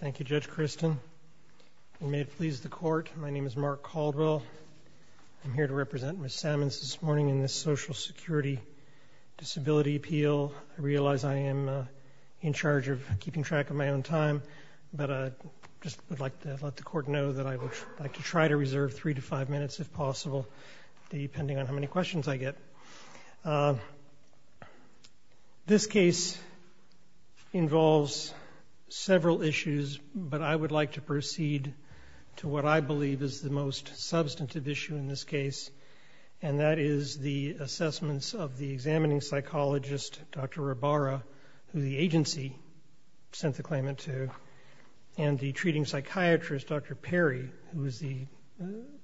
Thank you, Judge Christin. And may it please the Court, my name is Mark Caldwell. I'm here to represent Ms. Sammons this morning in this Social Security Disability Appeal. I realize I am in charge of keeping track of my own time, but I just would like to let the Court know that I would like to try to reserve three to five minutes if possible, depending on how many questions I get. This case involves several issues, but I would like to proceed to what I believe is the most substantive issue in this case, and that is the assessments of the examining psychologist, Dr. Rabara, who the agency sent the claimant to, and the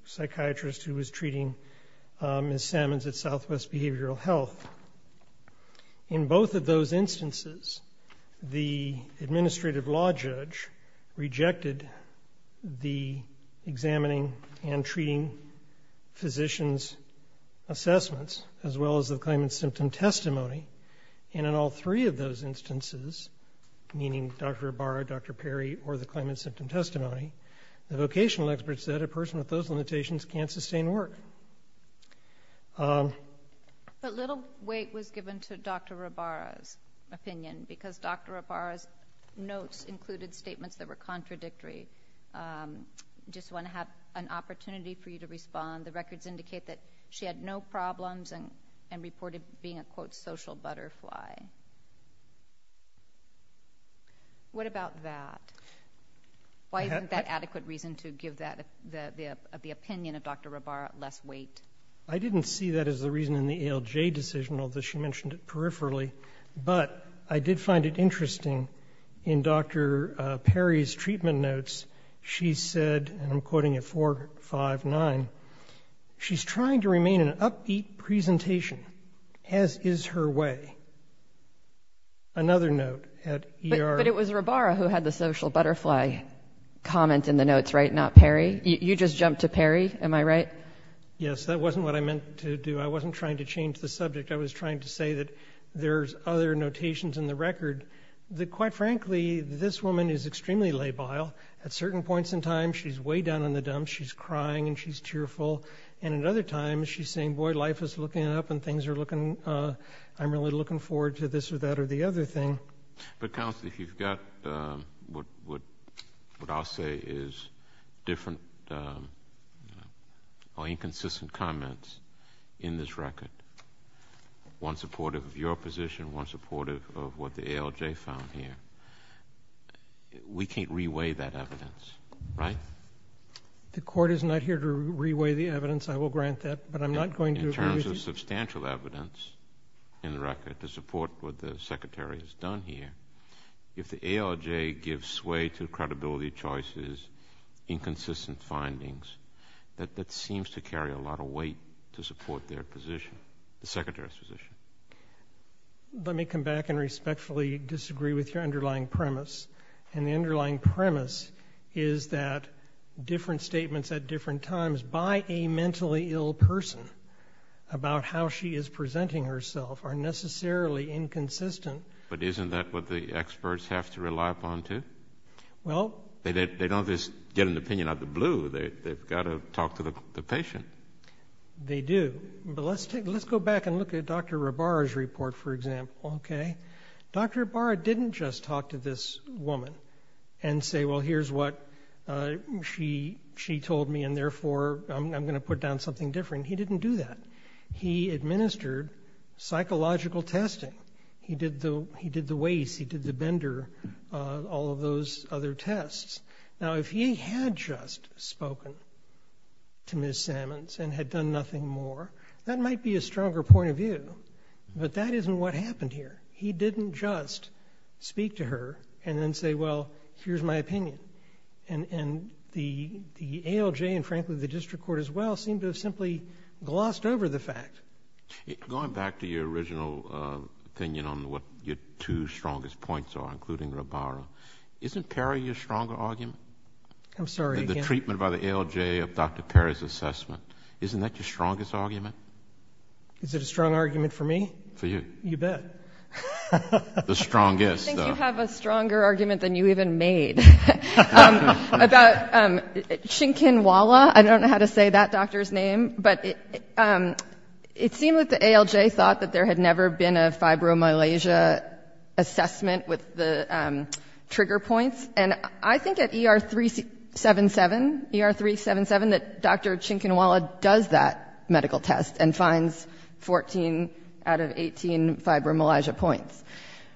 psychiatrist who was treating Ms. Sammons at Southwest Behavioral Health. In both of those instances, the administrative law judge rejected the examining and treating physicians' assessments as well as the claimant's symptom testimony. And in all three of those instances, meaning Dr. Rabara, Dr. Perry, or the claimant's symptom testimony, the vocational experts said a person with those limitations can't sustain work. But little weight was given to Dr. Rabara's opinion, because Dr. Rabara's notes included statements that were contradictory. I just want to have an opportunity for you to respond. The records indicate that she had no problems and reported being a, quote, social butterfly. What about that? Why isn't that adequate reason to give the opinion of Dr. Rabara less weight? I didn't see that as the reason in the ALJ decision, although she mentioned it peripherally. But I did find it interesting in Dr. Perry's treatment notes, she said, and I'm quoting at 459, she's trying to remain an upbeat presentation, as is her way. Another note at ER. But it was Rabara who had the social butterfly comment in the notes, right, not Perry? You just jumped to Perry, am I right? Yes, that wasn't what I meant to do. I wasn't trying to change the subject. I was trying to say that there's other notations in the record that, quite frankly, this woman is and she's tearful. And at other times, she's saying, boy, life is looking up and things are looking, I'm really looking forward to this or that or the other thing. But counsel, if you've got what I'll say is different or inconsistent comments in this record, one supportive of your position, one supportive of what the ALJ found here, we can't re-weigh that evidence, right? The court is not here to re-weigh the evidence. I will grant that, but I'm not going to agree with you. In terms of substantial evidence in the record to support what the Secretary has done here, if the ALJ gives sway to credibility choices, inconsistent findings, that seems to carry a lot of weight to support their position, the Secretary's position. Let me come back and respectfully disagree with your underlying premise. And the underlying premise is that different statements at different times by a mentally ill person about how she is presenting herself are necessarily inconsistent. But isn't that what the experts have to rely upon, too? Well. They don't just get an opinion out of the blue. They've got to talk to the patient. They do. But let's go back and look at Dr. Rabara's report, for example, okay? Dr. Rabara didn't just talk to this woman and say, well, here's what she told me and therefore I'm going to put down something different. He didn't do that. He administered psychological testing. He did the WACE, he did the Bender, all of those other tests. Now, if he had just spoken to Ms. Sammons and had done nothing more, that might be a stronger point of view. But that isn't what happened here. He didn't just speak to her and then say, well, here's my opinion. And the ALJ and, frankly, the District Court as well seem to have simply glossed over the fact. Going back to your original opinion on what your two strongest points are, including Rabara, isn't Perry your stronger argument? I'm sorry, again? The treatment by the ALJ of Dr. Perry's assessment. Isn't that your strongest argument? Is it a strong argument for me? For you. You bet. The strongest, though. I think you have a stronger argument than you even made about Shinkinwala. I don't know how to say that doctor's name. But it seemed that the ALJ thought that there had never been a fibromyalgia assessment with the trigger points. And I think at ER 377, that Dr. Shinkinwala does that medical test and finds 14 out of 18 fibromyalgia points.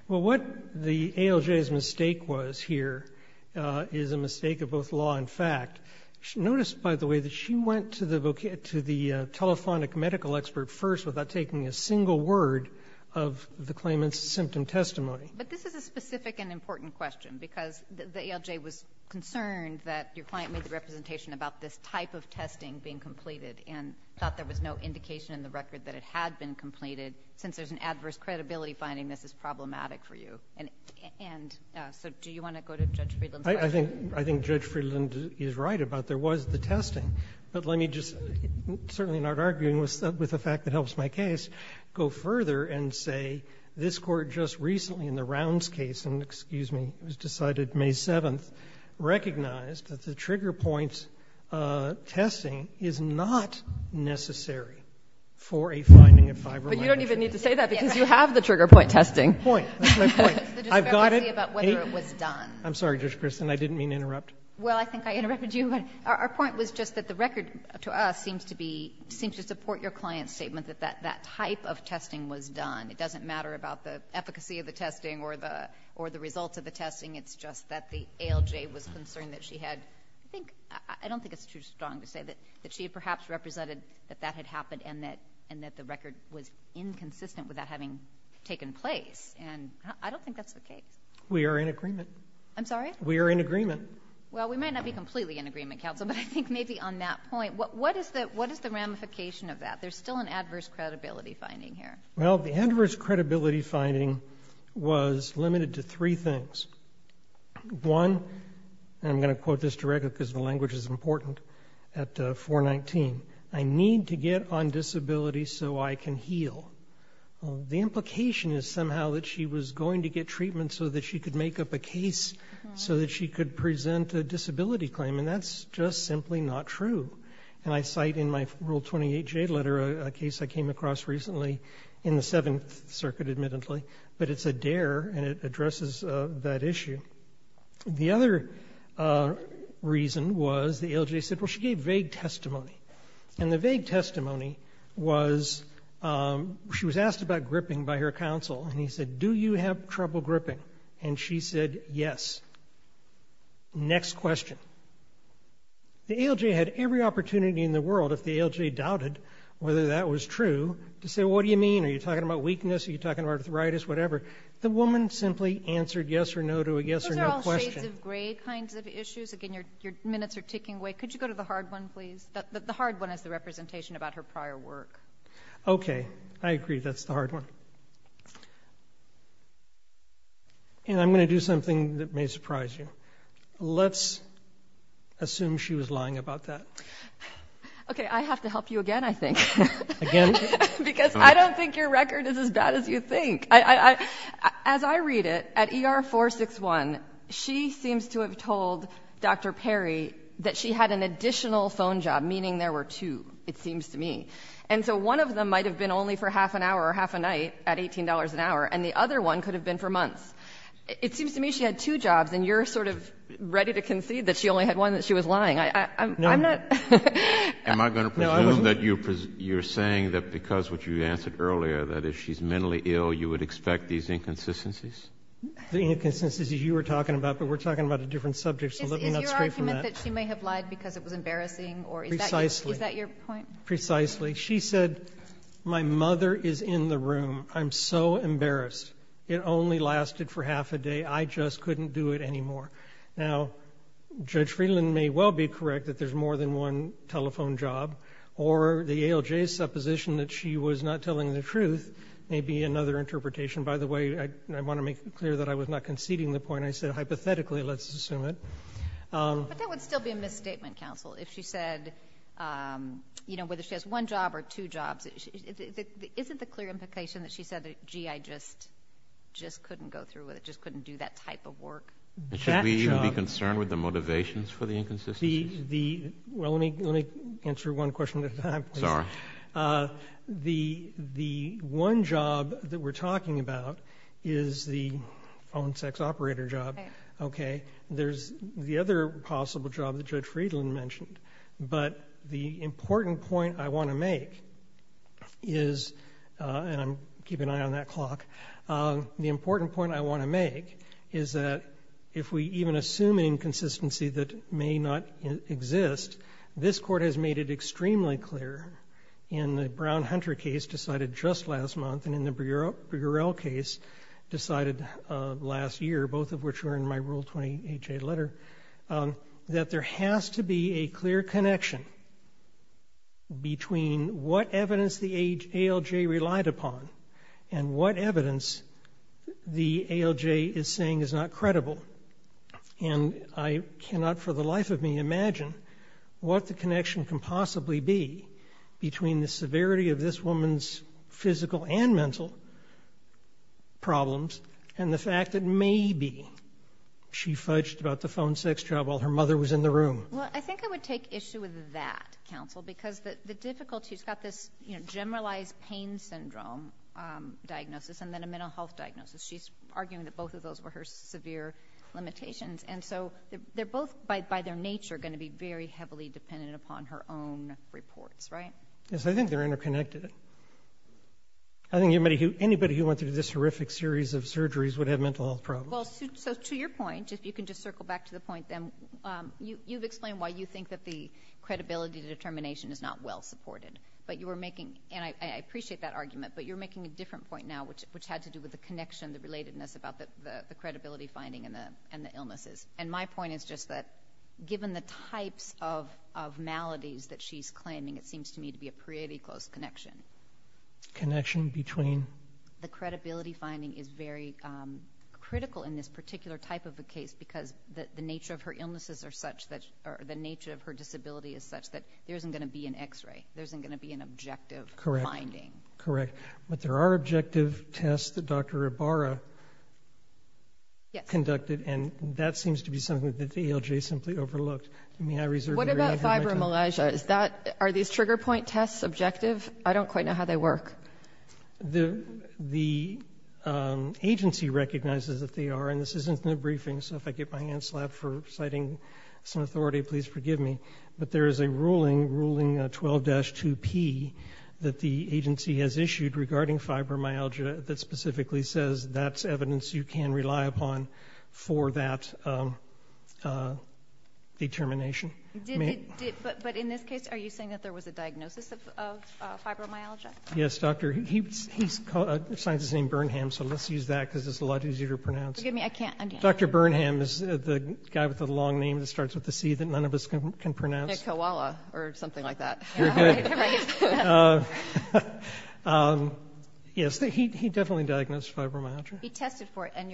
Well, what the ALJ's mistake was here is a mistake of both law and fact. Notice, by the way, that she went to the telephonic medical expert first without taking a single word of the claimant's symptom testimony. But this is a specific and important question, because the ALJ was concerned that your client made the representation about this type of testing being completed and thought there was no indication in the record that it had been completed, since there's an adverse credibility finding this is problematic for you. And so do you want to go to Judge Friedland's question? I think Judge Friedland is right about there was the testing. But let me just, certainly not arguing with the fact that helps my case, go further and say this Court just recently in the Rounds case, and excuse me, it was decided May 7th, recognized that the trigger point testing is not necessary for a finding of fibromyalgia. But you don't even need to say that, because you have the trigger point testing. Point. That's my point. I've got it. The discrepancy about whether it was done. I'm sorry, Judge Christin, I didn't mean to interrupt. Well, I think I interrupted you. Our point was just that the record to us seems to support your client's statement that that type of testing was done. It doesn't matter about the efficacy of the testing or the results of the testing. It's just that the ALJ was concerned that she had, I don't think it's too strong to say that she had perhaps represented that that had happened and that the record was inconsistent with that having taken place. And I don't think that's the case. We are in agreement. I'm sorry? We are in agreement. Well, we might not be completely in agreement, Counsel, but I think maybe on that point, what is the ramification of that? There's still an adverse credibility finding here. Well, the adverse credibility finding was limited to three things. One, and I'm going to quote this directly because the language is important, at 419, I need to get on disability so I can heal. The implication is somehow that she was going to get treatment so that she could make up a case so that she could present a disability claim, and that's just simply not true. And I cite in my Rule 28J letter a case I came across recently in the Seventh Circuit, admittedly, but it's a dare and it addresses that issue. The other reason was the ALJ said, well, she gave vague testimony, and the vague testimony was she was asked about gripping by her counsel, and he said, do you have trouble gripping? And she said, yes. Next question. The ALJ had every opportunity in the world, if the ALJ doubted whether that was true, to say, what do you mean? Are you talking about weakness? Are you talking about arthritis? Whatever. The woman simply answered yes or no to a yes or no question. Those are all shades of gray kinds of issues. Again, your minutes are ticking away. Could you go to the hard one, please? The hard one is the representation about her prior work. Okay. I agree. That's the hard one. And I'm going to do something that may surprise you. Let's assume she was lying about that. Okay. I have to help you again, I think. Again? Because I don't think your record is as bad as you think. As I read it, at ER 461, she had an additional phone job, meaning there were two, it seems to me. And so one of them might have been only for half an hour or half a night at $18 an hour, and the other one could have been for months. It seems to me she had two jobs, and you're sort of ready to concede that she only had one, that she was lying. I'm not— No. Am I going to presume that you're saying that because what you answered earlier, that if she's mentally ill, you would expect these inconsistencies? The inconsistencies you were talking about, but we're talking about a different subject, so let me not stray from that. So you're saying that she may have lied because it was embarrassing, or is that your point? Precisely. Precisely. She said, my mother is in the room. I'm so embarrassed. It only lasted for half a day. I just couldn't do it anymore. Now, Judge Friedland may well be correct that there's more than one telephone job, or the ALJ's supposition that she was not telling the truth may be another interpretation. By the way, I want to make clear that I was not conceding the point I said, hypothetically, let's assume it. But that would still be a misstatement, counsel, if she said, you know, whether she has one job or two jobs. Isn't the clear implication that she said, gee, I just couldn't go through with it, just couldn't do that type of work? Should we even be concerned with the motivations for the inconsistencies? Well, let me answer one question at a time, please. Sorry. The one job that we're talking about is the own sex operator job. Okay. There's the other possible job that Judge Friedland mentioned. But the important point I want to make is, and I'm keeping an eye on that clock, the important point I want to make is that if we even assume an inconsistency that may not exist, this court has made it extremely clear in the Brown-Hunter case decided just last month, and in the Brugerell case decided last year, both of which were in my Rule 28A letter, that there has to be a clear connection between what evidence the ALJ relied upon and what evidence the ALJ is saying is not credible. And I cannot for the life of me imagine what the connection can possibly be between the severity of this woman's physical and mental problems and the fact that maybe she fudged about the phone sex job while her mother was in the room. Well, I think I would take issue with that, Counsel, because the difficulty, she's got this generalized pain syndrome diagnosis and then a mental health diagnosis. She's arguing that both of those were her severe limitations. And so they're both, by their nature, going to be very heavily dependent upon her own reports, right? Yes, I think they're interconnected. I think anybody who went through this horrific series of surgeries would have mental health problems. Well, so to your point, if you can just circle back to the point then, you've explained why you think that the credibility determination is not well supported. But you were making, and I appreciate that argument, but you're making a different point now, which had to do with the connection, the relatedness about the credibility finding and the illnesses. And my point is just that given the types of maladies that she's claiming, it seems to me to be a pretty close connection. Connection between? The credibility finding is very critical in this particular type of a case because the nature of her illnesses are such that, or the nature of her disability is such that there isn't going to be an x-ray. There isn't going to be an objective finding. Correct. But there are objective tests that Dr. Ibarra conducted, and that seems to be something that the ALJ simply overlooked. What about fibromyalgia? Are these trigger point tests objective? I don't quite know how they work. The agency recognizes that they are, and this isn't in the briefing, so if I get my hand slapped for citing some authority, please forgive me. But there is a ruling, ruling 12-2P, that the agency has issued regarding fibromyalgia that specifically says that's evidence you can rely upon for that determination. But in this case, are you saying that there was a diagnosis of fibromyalgia? Yes, doctor. He cites his name, Burnham, so let's use that because it's a lot easier to pronounce. Forgive me, I can't. Dr. Burnham is the guy with the long name that starts with a C that none of us can pronounce. A koala or something like that. You're good. Yes, he definitely diagnosed fibromyalgia. He tested for it, and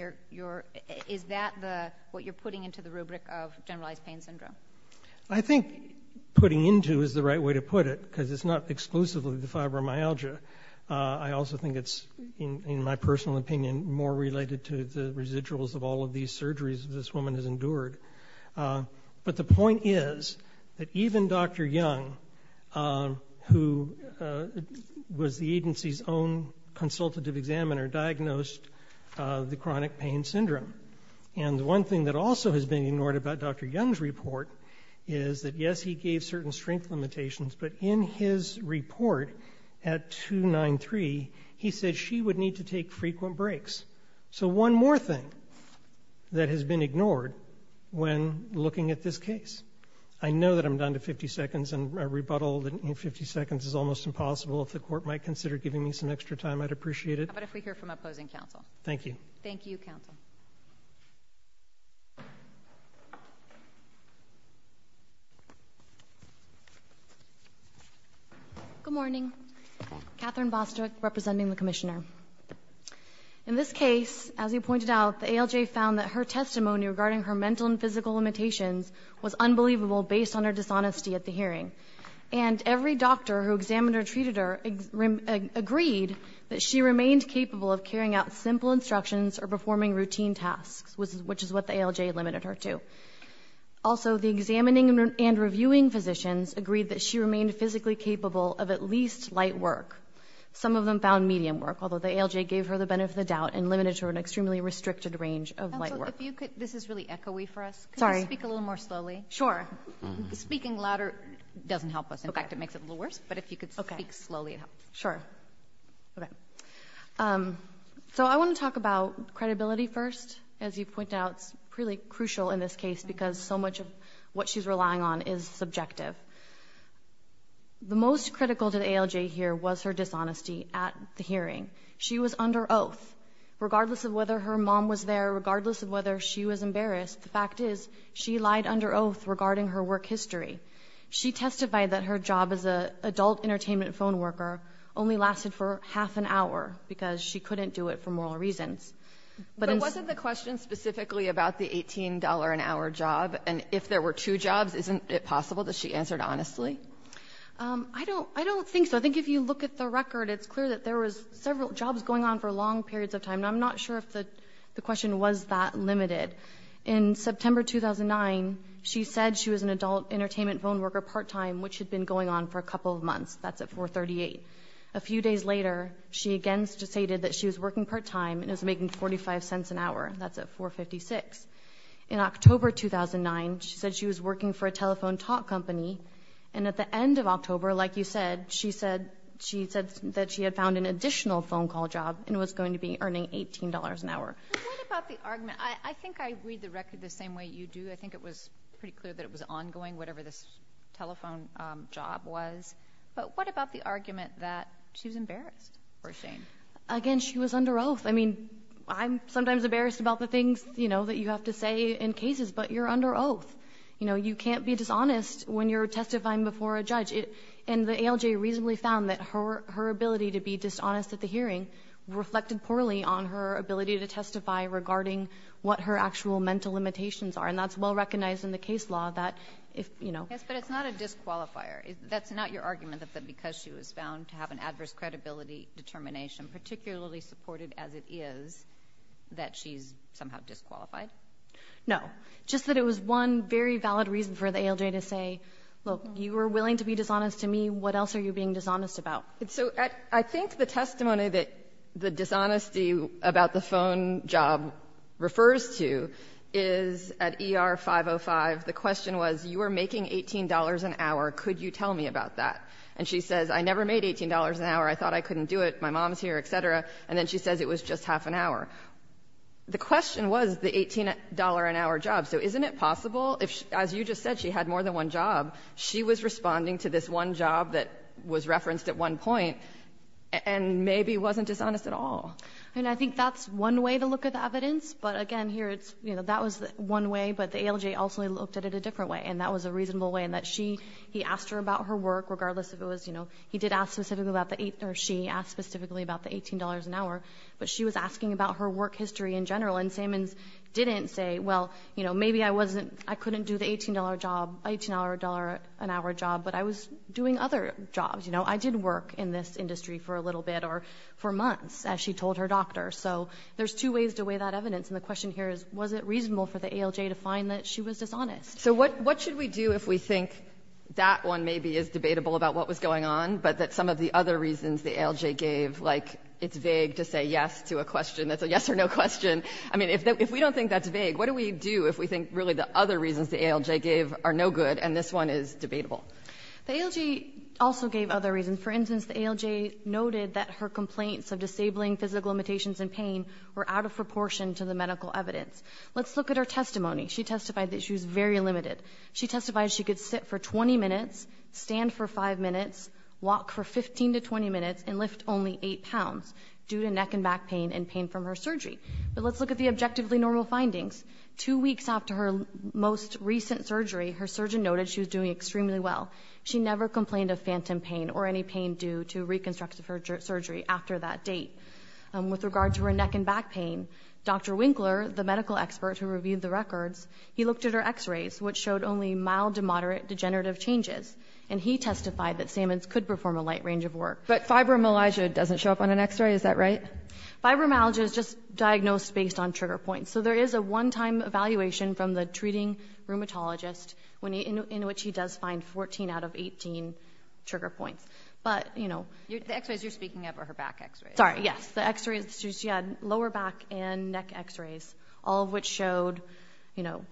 is that what you're putting into the rubric of generalized pain syndrome? I think putting into is the right way to put it, because it's not exclusively the fibromyalgia. I also think it's, in my personal opinion, more related to the residuals of all of these surgeries this woman has endured. But the point is that even Dr. Young, who was the agency's own consultative examiner, diagnosed the chronic pain syndrome. And the one thing that also has been ignored about Dr. Young's report is that yes, he gave certain strength limitations, but in his report at 293, he said she would need to take frequent breaks. So one more thing that has been ignored when looking at this case. I know that I'm down to 50 seconds, and a rebuttal in 50 seconds is almost impossible. If the court might consider giving me some extra time, I'd appreciate it. How about if we hear from opposing counsel? Thank you. Thank you, counsel. Good morning. Catherine Bostrick, representing the commissioner. In this case, as you pointed out, the ALJ found that her testimony regarding her mental and physical limitations was unbelievable based on her dishonesty at the hearing. And every doctor who examined or treated her agreed that she remained capable of carrying out simple instructions or performing routine tasks, which is what the ALJ limited her to. Also, the examining and reviewing physicians agreed that she remained physically capable of at least light work. Some of them found medium work, although the ALJ gave her the benefit of the doubt and limited her to an extremely restricted range of light work. If you could, this is really echoey for us. Sorry. Can you speak a little more slowly? Sure. Speaking louder doesn't help us. In fact, it makes it a little worse. But if you could speak slowly, it'd help. Sure. Okay. So I want to talk about credibility first. As you point out, it's really crucial in this case because so much of what she's relying on is subjective. The most critical to the ALJ here was her dishonesty at the hearing. She was under oath. Regardless of whether her mom was there, regardless of whether she was embarrassed, the fact is she lied under oath regarding her work history. She testified that her job as a adult entertainment phone worker only lasted for half an hour because she couldn't do it for moral reasons. But wasn't the question specifically about the $18 an hour job? Honestly? I don't think so. I think if you look at the record, it's clear that there was several jobs going on for long periods of time. I'm not sure if the question was that limited. In September 2009, she said she was an adult entertainment phone worker part-time, which had been going on for a couple of months. That's at 438. A few days later, she again stated that she was working part-time and was making 45 cents an hour. That's at 456. In October 2009, she said she was working for a telephone talk company, and at the end of October, like you said, she said that she had found an additional phone call job and was going to be earning $18 an hour. But what about the argument? I think I read the record the same way you do. I think it was pretty clear that it was ongoing, whatever this telephone job was. But what about the argument that she was embarrassed or ashamed? Again, she was under oath. I'm sometimes embarrassed about the things that you have to say in cases, but you're under oath. You can't be dishonest when you're testifying before a judge. The ALJ reasonably found that her ability to be dishonest at the hearing reflected poorly on her ability to testify regarding what her actual mental limitations are, and that's well recognized in the case law that if... Yes, but it's not a disqualifier. That's not your argument that because she was found to have an adverse credibility determination, particularly supported as it is, that she's somehow disqualified? No, just that it was one very valid reason for the ALJ to say, look, you were willing to be dishonest to me. What else are you being dishonest about? So I think the testimony that the dishonesty about the phone job refers to is at ER 505, the question was, you were making $18 an hour. Could you tell me about that? And she says, I never made $18 an hour. I thought I couldn't do it. My mom's here, et cetera. And then she says it was just half an hour. The question was the $18 an hour job. So isn't it possible if, as you just said, she had more than one job, she was responding to this one job that was referenced at one point and maybe wasn't dishonest at all? I mean, I think that's one way to look at the evidence. But again, here it's, you know, that was one way, but the ALJ ultimately looked at it a different way, and that was a reasonable way in that she, he asked her about her work, regardless if it was, you know, he did ask specifically about the, or she asked specifically about the $18 an hour, but she was asking about her work history in general. And Sammons didn't say, well, you know, maybe I wasn't, I couldn't do the $18 job, $18 an hour job, but I was doing other jobs. You know, I did work in this industry for a little bit or for months, as she told her doctor. So there's two ways to weigh that evidence. And the question here is, was it reasonable for the ALJ to find that she was dishonest? So what, what should we do if we think that one maybe is debatable about what was going on, but that some of the other reasons the ALJ gave, like it's vague to say yes to a question that's a yes or no question. I mean, if we don't think that's vague, what do we do if we think really the other reasons the ALJ gave are no good and this one is debatable? The ALJ also gave other reasons. For instance, the ALJ noted that her complaints of disabling physical limitations and pain were out of proportion to the medical evidence. Let's look at her testimony. She testified that she was very limited. She testified she could sit for 20 minutes, stand for five minutes, walk for 15 to 20 minutes and lift only eight pounds due to neck and back pain and pain from her surgery. But let's look at the objectively normal findings. Two weeks after her most recent surgery, her surgeon noted she was doing extremely well. She never complained of phantom pain or any pain due to reconstructive surgery after that date. With regard to her neck and back pain, Dr. Winkler, the medical expert who reviewed the looked at her x-rays, which showed only mild to moderate degenerative changes. And he testified that Sammons could perform a light range of work. But fibromyalgia doesn't show up on an x-ray, is that right? Fibromyalgia is just diagnosed based on trigger points. So there is a one-time evaluation from the treating rheumatologist in which he does find 14 out of 18 trigger points. But, you know. The x-rays you're speaking of are her back x-rays. Sorry, yes. The x-rays, she had lower back and neck x-rays, all of which showed, you know,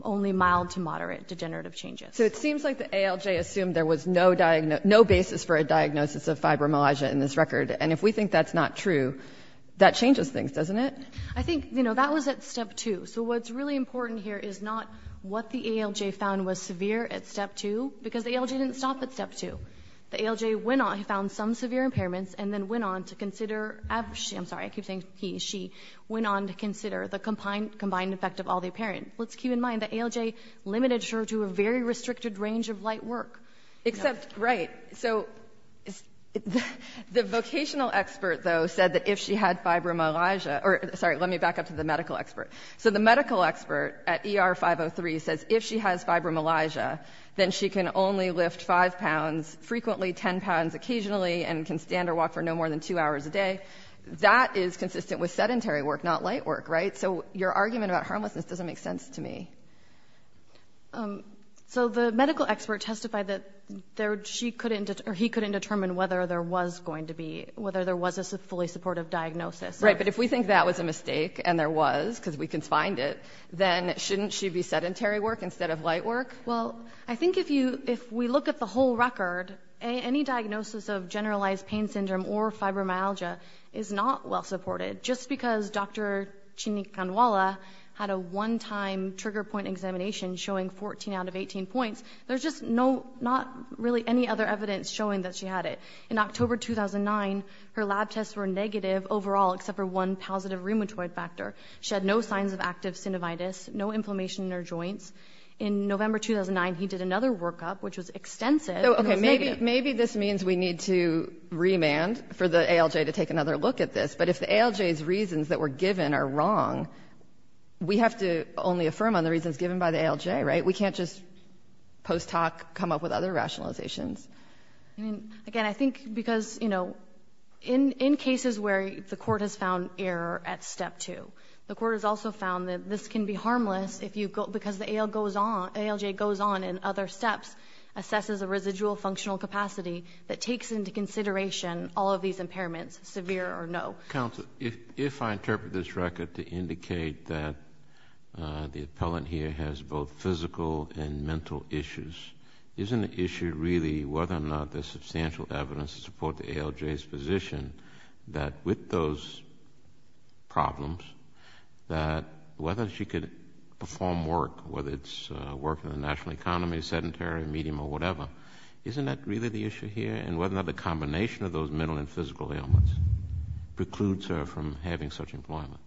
only mild to moderate degenerative changes. So it seems like the ALJ assumed there was no basis for a diagnosis of fibromyalgia in this record. And if we think that's not true, that changes things, doesn't it? I think, you know, that was at step two. So what's really important here is not what the ALJ found was severe at step two, because the ALJ didn't stop at step two. The ALJ went on, found some severe impairments, and then went on to consider, I'm sorry, I keep saying he, she, went on to consider the combined effect of all the impairments. Let's keep in mind the ALJ limited her to a very restricted range of light work. Except, right. So the vocational expert, though, said that if she had fibromyalgia, or sorry, let me back up to the medical expert. So the medical expert at ER 503 says if she has fibromyalgia, then she can only lift five to frequently ten pounds occasionally, and can stand or walk for no more than two hours a day. That is consistent with sedentary work, not light work, right? So your argument about harmlessness doesn't make sense to me. So the medical expert testified that she couldn't, or he couldn't determine whether there was going to be, whether there was a fully supportive diagnosis. Right, but if we think that was a mistake, and there was, because we can find it, then shouldn't she be sedentary work instead of light work? Well, I think if you, if we look at the whole record, any diagnosis of generalized pain syndrome or fibromyalgia is not well supported. Just because Dr. Chinni Kanwala had a one-time trigger point examination showing 14 out of 18 points, there's just no, not really any other evidence showing that she had it. In October 2009, her lab tests were negative overall, except for one positive rheumatoid factor. She had no signs of active synovitis, no inflammation in her joints. In November 2009, he did another workup, which was extensive, and it was negative. Maybe this means we need to remand for the ALJ to take another look at this. But if the ALJ's reasons that were given are wrong, we have to only affirm on the reasons given by the ALJ, right? We can't just post-talk, come up with other rationalizations. Again, I think because, you know, in cases where the court has found error at step two, the court has also found that this can be harmless because the ALJ goes on in other steps, assesses a residual functional capacity that takes into consideration all of these impairments, severe or no. Counsel, if I interpret this record to indicate that the appellant here has both physical and mental issues, isn't the issue really whether or not there's substantial evidence to support the ALJ's position that with those problems, that whether she could perform work, whether it's work in the national economy, sedentary, medium or whatever, isn't that really the issue here? And whether or not the combination of those mental and physical ailments precludes her from having such employment?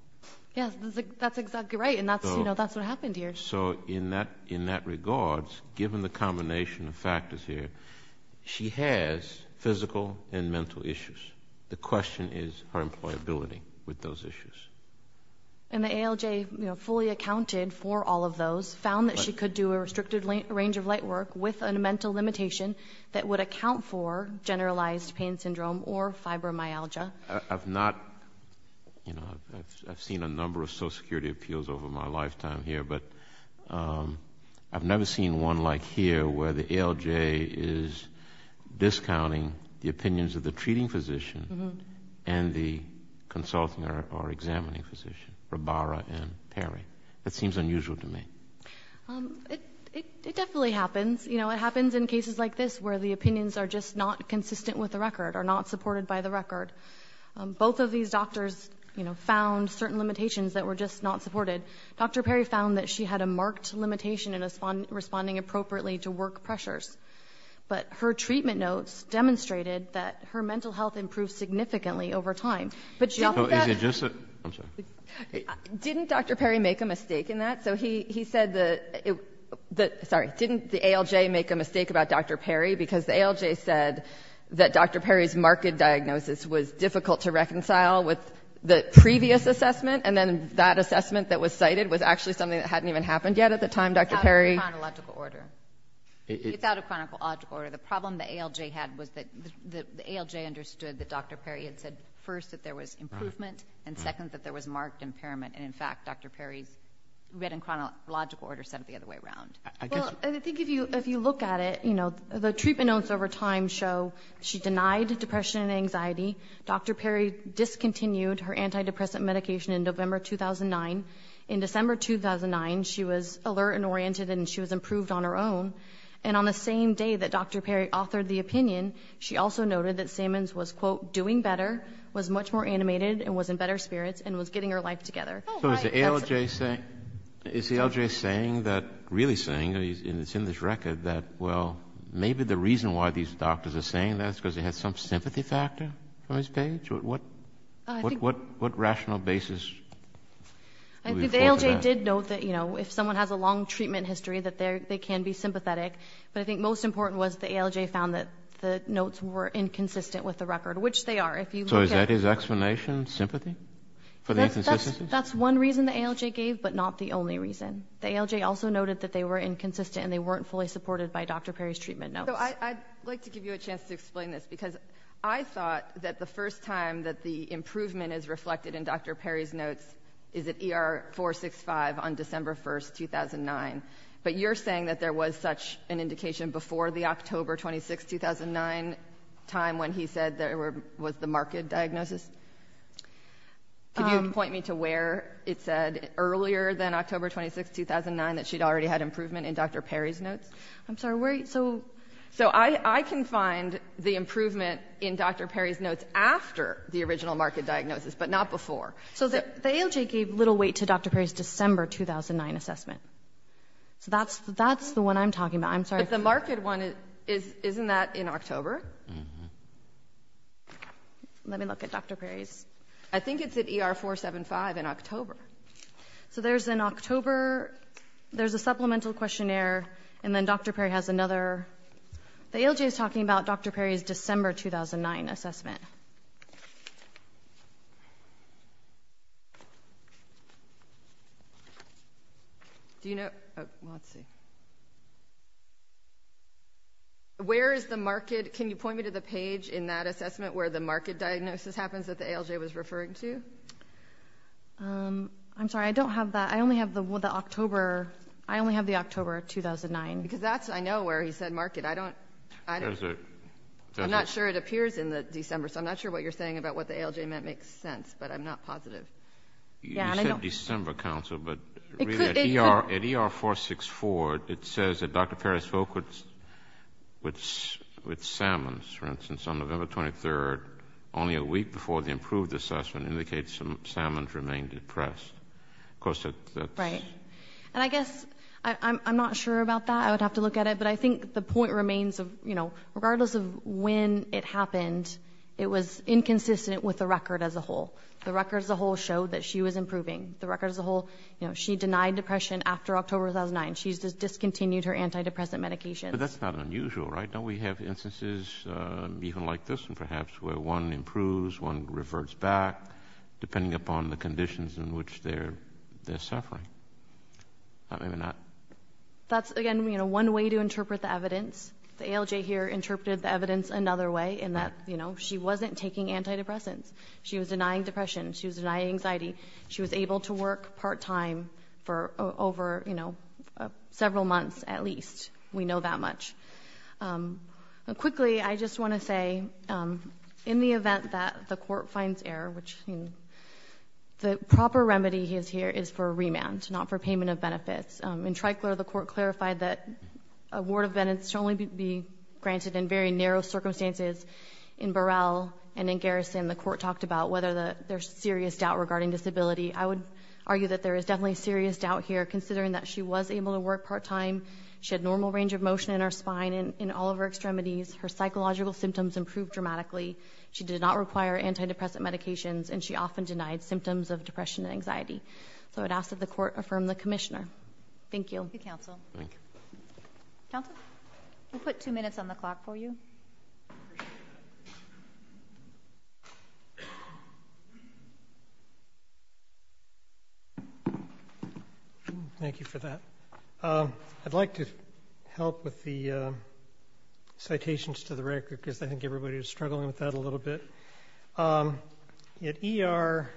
Yes, that's exactly right. And that's, you know, that's what happened here. So in that regard, given the combination of factors here, she has physical and mental issues. The question is her employability with those issues. And the ALJ, you know, fully accounted for all of those, found that she could do a restricted range of light work with a mental limitation that would account for generalized pain syndrome or fibromyalgia. I've not, you know, I've seen a number of Social Security appeals over my lifetime here, but I've never seen one like here where the ALJ is discounting the opinions of the treating physician and the consulting or examining physician, Rabara and Perry. It seems unusual to me. It definitely happens. You know, it happens in cases like this where the opinions are just not consistent with the record, are not supported by the record. Both of these doctors, you know, found certain limitations that were just not supported. Dr. Perry found that she had a marked limitation in responding appropriately to work pressures. But her treatment notes demonstrated that her mental health improved significantly over time. But she offered that- Is it just a- I'm sorry. Didn't Dr. Perry make a mistake in that? So he said that, sorry, didn't the ALJ make a mistake about Dr. Perry? Because the ALJ said that Dr. Perry's marked diagnosis was difficult to reconcile with the previous assessment. And then that assessment that was cited was actually something that hadn't even happened yet at the time, Dr. Perry. It's out of chronological order. It's out of chronological order. The problem the ALJ had was that the ALJ understood that Dr. Perry had said first that there was improvement and second that there was marked impairment. And in fact, Dr. Perry's written chronological order said it the other way around. Well, I think if you look at it, you know, the treatment notes over time show she denied depression and anxiety. Dr. Perry discontinued her antidepressant medication in November 2009. In December 2009, she was alert and oriented and she was improved on her own. And on the same day that Dr. Perry authored the opinion, she also noted that Sammons was, quote, doing better, was much more animated and was in better spirits and was getting her life together. So is the ALJ saying, is the ALJ saying that, really saying, and it's in this record that, well, maybe the reason why these doctors are saying that is because they had some sympathy factor on his page? What rational basis? I think the ALJ did note that, you know, if someone has a long treatment history, that they can be sympathetic. But I think most important was the ALJ found that the notes were inconsistent with the record, which they are. So is that his explanation? Sympathy for the inconsistency? That's one reason the ALJ gave, but not the only reason. The ALJ also noted that they were inconsistent and they weren't fully supported by Dr. Perry's treatment notes. So I'd like to give you a chance to explain this because I thought that the first time that the improvement is reflected in Dr. Perry's notes is at ER 465 on December 1st, 2009. But you're saying that there was such an indication before the October 26th, 2009 time when he said there was the marked diagnosis? Can you point me to where it said earlier than October 26th, 2009 that she'd already had improvement in Dr. Perry's notes? I'm sorry, where are you? So I can find the improvement in Dr. Perry's notes after the original marked diagnosis, but not before. So the ALJ gave little weight to Dr. Perry's December 2009 assessment. So that's the one I'm talking about. I'm sorry. Let me look at Dr. Perry's notes. I think it's at ER 475 in October. So there's an October, there's a supplemental questionnaire, and then Dr. Perry has another. The ALJ is talking about Dr. Perry's December 2009 assessment. Do you know, oh, let's see. Where is the marked, can you point me to the page in that assessment where the marked diagnosis happens that the ALJ was referring to? I'm sorry, I don't have that. I only have the October, I only have the October 2009. Because that's, I know where he said marked. I don't, I'm not sure it appears in the December. So I'm not sure what you're saying about what the ALJ meant makes sense, but I'm not positive. You said December, counsel, but at ER 464, it says that Dr. Perry spoke with Sammons, for instance, on November 23rd, only a week before the improved assessment, indicates that Sammons remained depressed. Of course, that's... Right. And I guess, I'm not sure about that. I would have to look at it. But I think the point remains of, you know, regardless of when it happened, it was inconsistent with the record as a whole. The record as a whole showed that she was improving. The record as a whole, you know, she denied depression after October 2009. She's just discontinued her antidepressant medications. But that's not unusual, right? Don't we have instances even like this, and perhaps where one improves, one reverts back, depending upon the conditions in which they're suffering? Not, maybe not. That's, again, you know, one way to interpret the evidence. The ALJ here interpreted the evidence another way in that, you know, she wasn't taking antidepressants. She was denying depression. She was denying anxiety. She was able to work part-time for over, you know, several months, at least. We know that much. Quickly, I just want to say, in the event that the court finds error, which, the proper remedy here is for remand, not for payment of benefits. In Tricolor, the court clarified that a ward of benefits should only be granted in very narrow circumstances. In Burrell and in Garrison, the court talked about whether there's serious doubt regarding disability. I would argue that there is definitely serious doubt here, considering that she was able to work part-time. She had normal range of motion in her spine and in all of her extremities. Her psychological symptoms improved dramatically. She did not require antidepressant medications, and she often denied symptoms of depression and anxiety. So, I'd ask that the court affirm the commissioner. Thank you. Thank you, counsel. Counsel, we'll put two minutes on the clock for you. Thank you for that. I'd like to help with the citations to the record, because I think everybody was struggling with that a little bit. At ER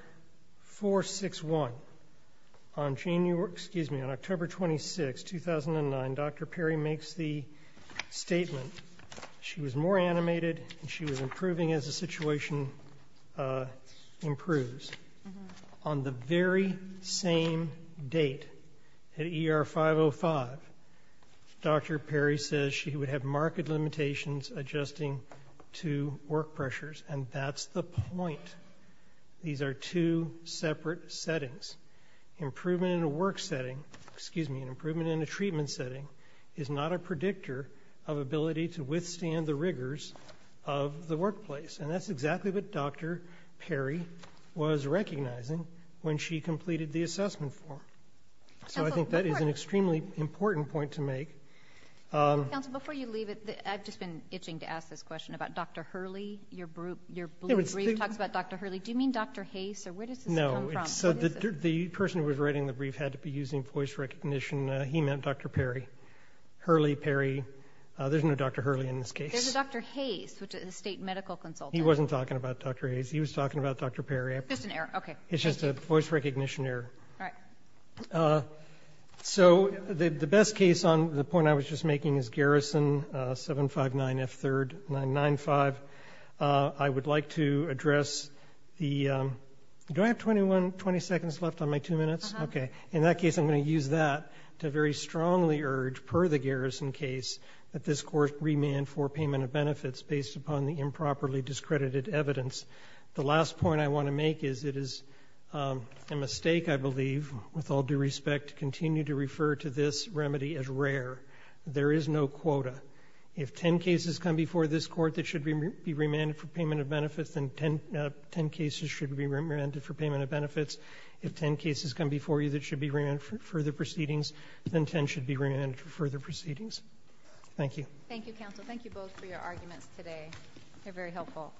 461, on October 26, 2009, Dr. Perry makes the statement, she was more animated, and she was improving as the situation improves. On the very same date at ER 505, Dr. Perry says she would have marked limitations adjusting to work pressures, and that's the point. These are two separate settings. Improvement in a work setting, excuse me, an improvement in a treatment setting is not a predictor of ability to withstand the rigors of the workplace. And that's exactly what Dr. Perry was recognizing when she completed the assessment form. So, I think that is an extremely important point to make. Counsel, before you leave it, I've just been itching to ask this question about Dr. Hurley. Your brief talks about Dr. Hurley. Do you mean Dr. Hayes, or where does this come from? No, so the person who was writing the brief had to be using voice recognition. He meant Dr. Perry. Hurley, Perry. There's no Dr. Hurley in this case. There's a Dr. Hayes, which is a state medical consultant. He wasn't talking about Dr. Hayes. He was talking about Dr. Perry. Just an error, okay. It's just a voice recognition error. All right. So, the best case on the point I was just making is Garrison 759F3, 995. I would like to address the, do I have 21, 20 seconds left on my two minutes? Okay. In that case, I'm going to use that to very strongly urge, per the Garrison case, that this court remand for payment of benefits based upon the improperly discredited evidence. The last point I want to make is it is a mistake, I believe, with all due respect, to continue to refer to this remedy as rare. There is no quota. If 10 cases come before this court that should be remanded for payment of benefits, then 10 cases should be remanded for payment of benefits. If 10 cases come before you that should be remanded for further proceedings, then 10 should be remanded for further proceedings. Thank you. Thank you, counsel. Thank you both for your arguments today. They're very helpful.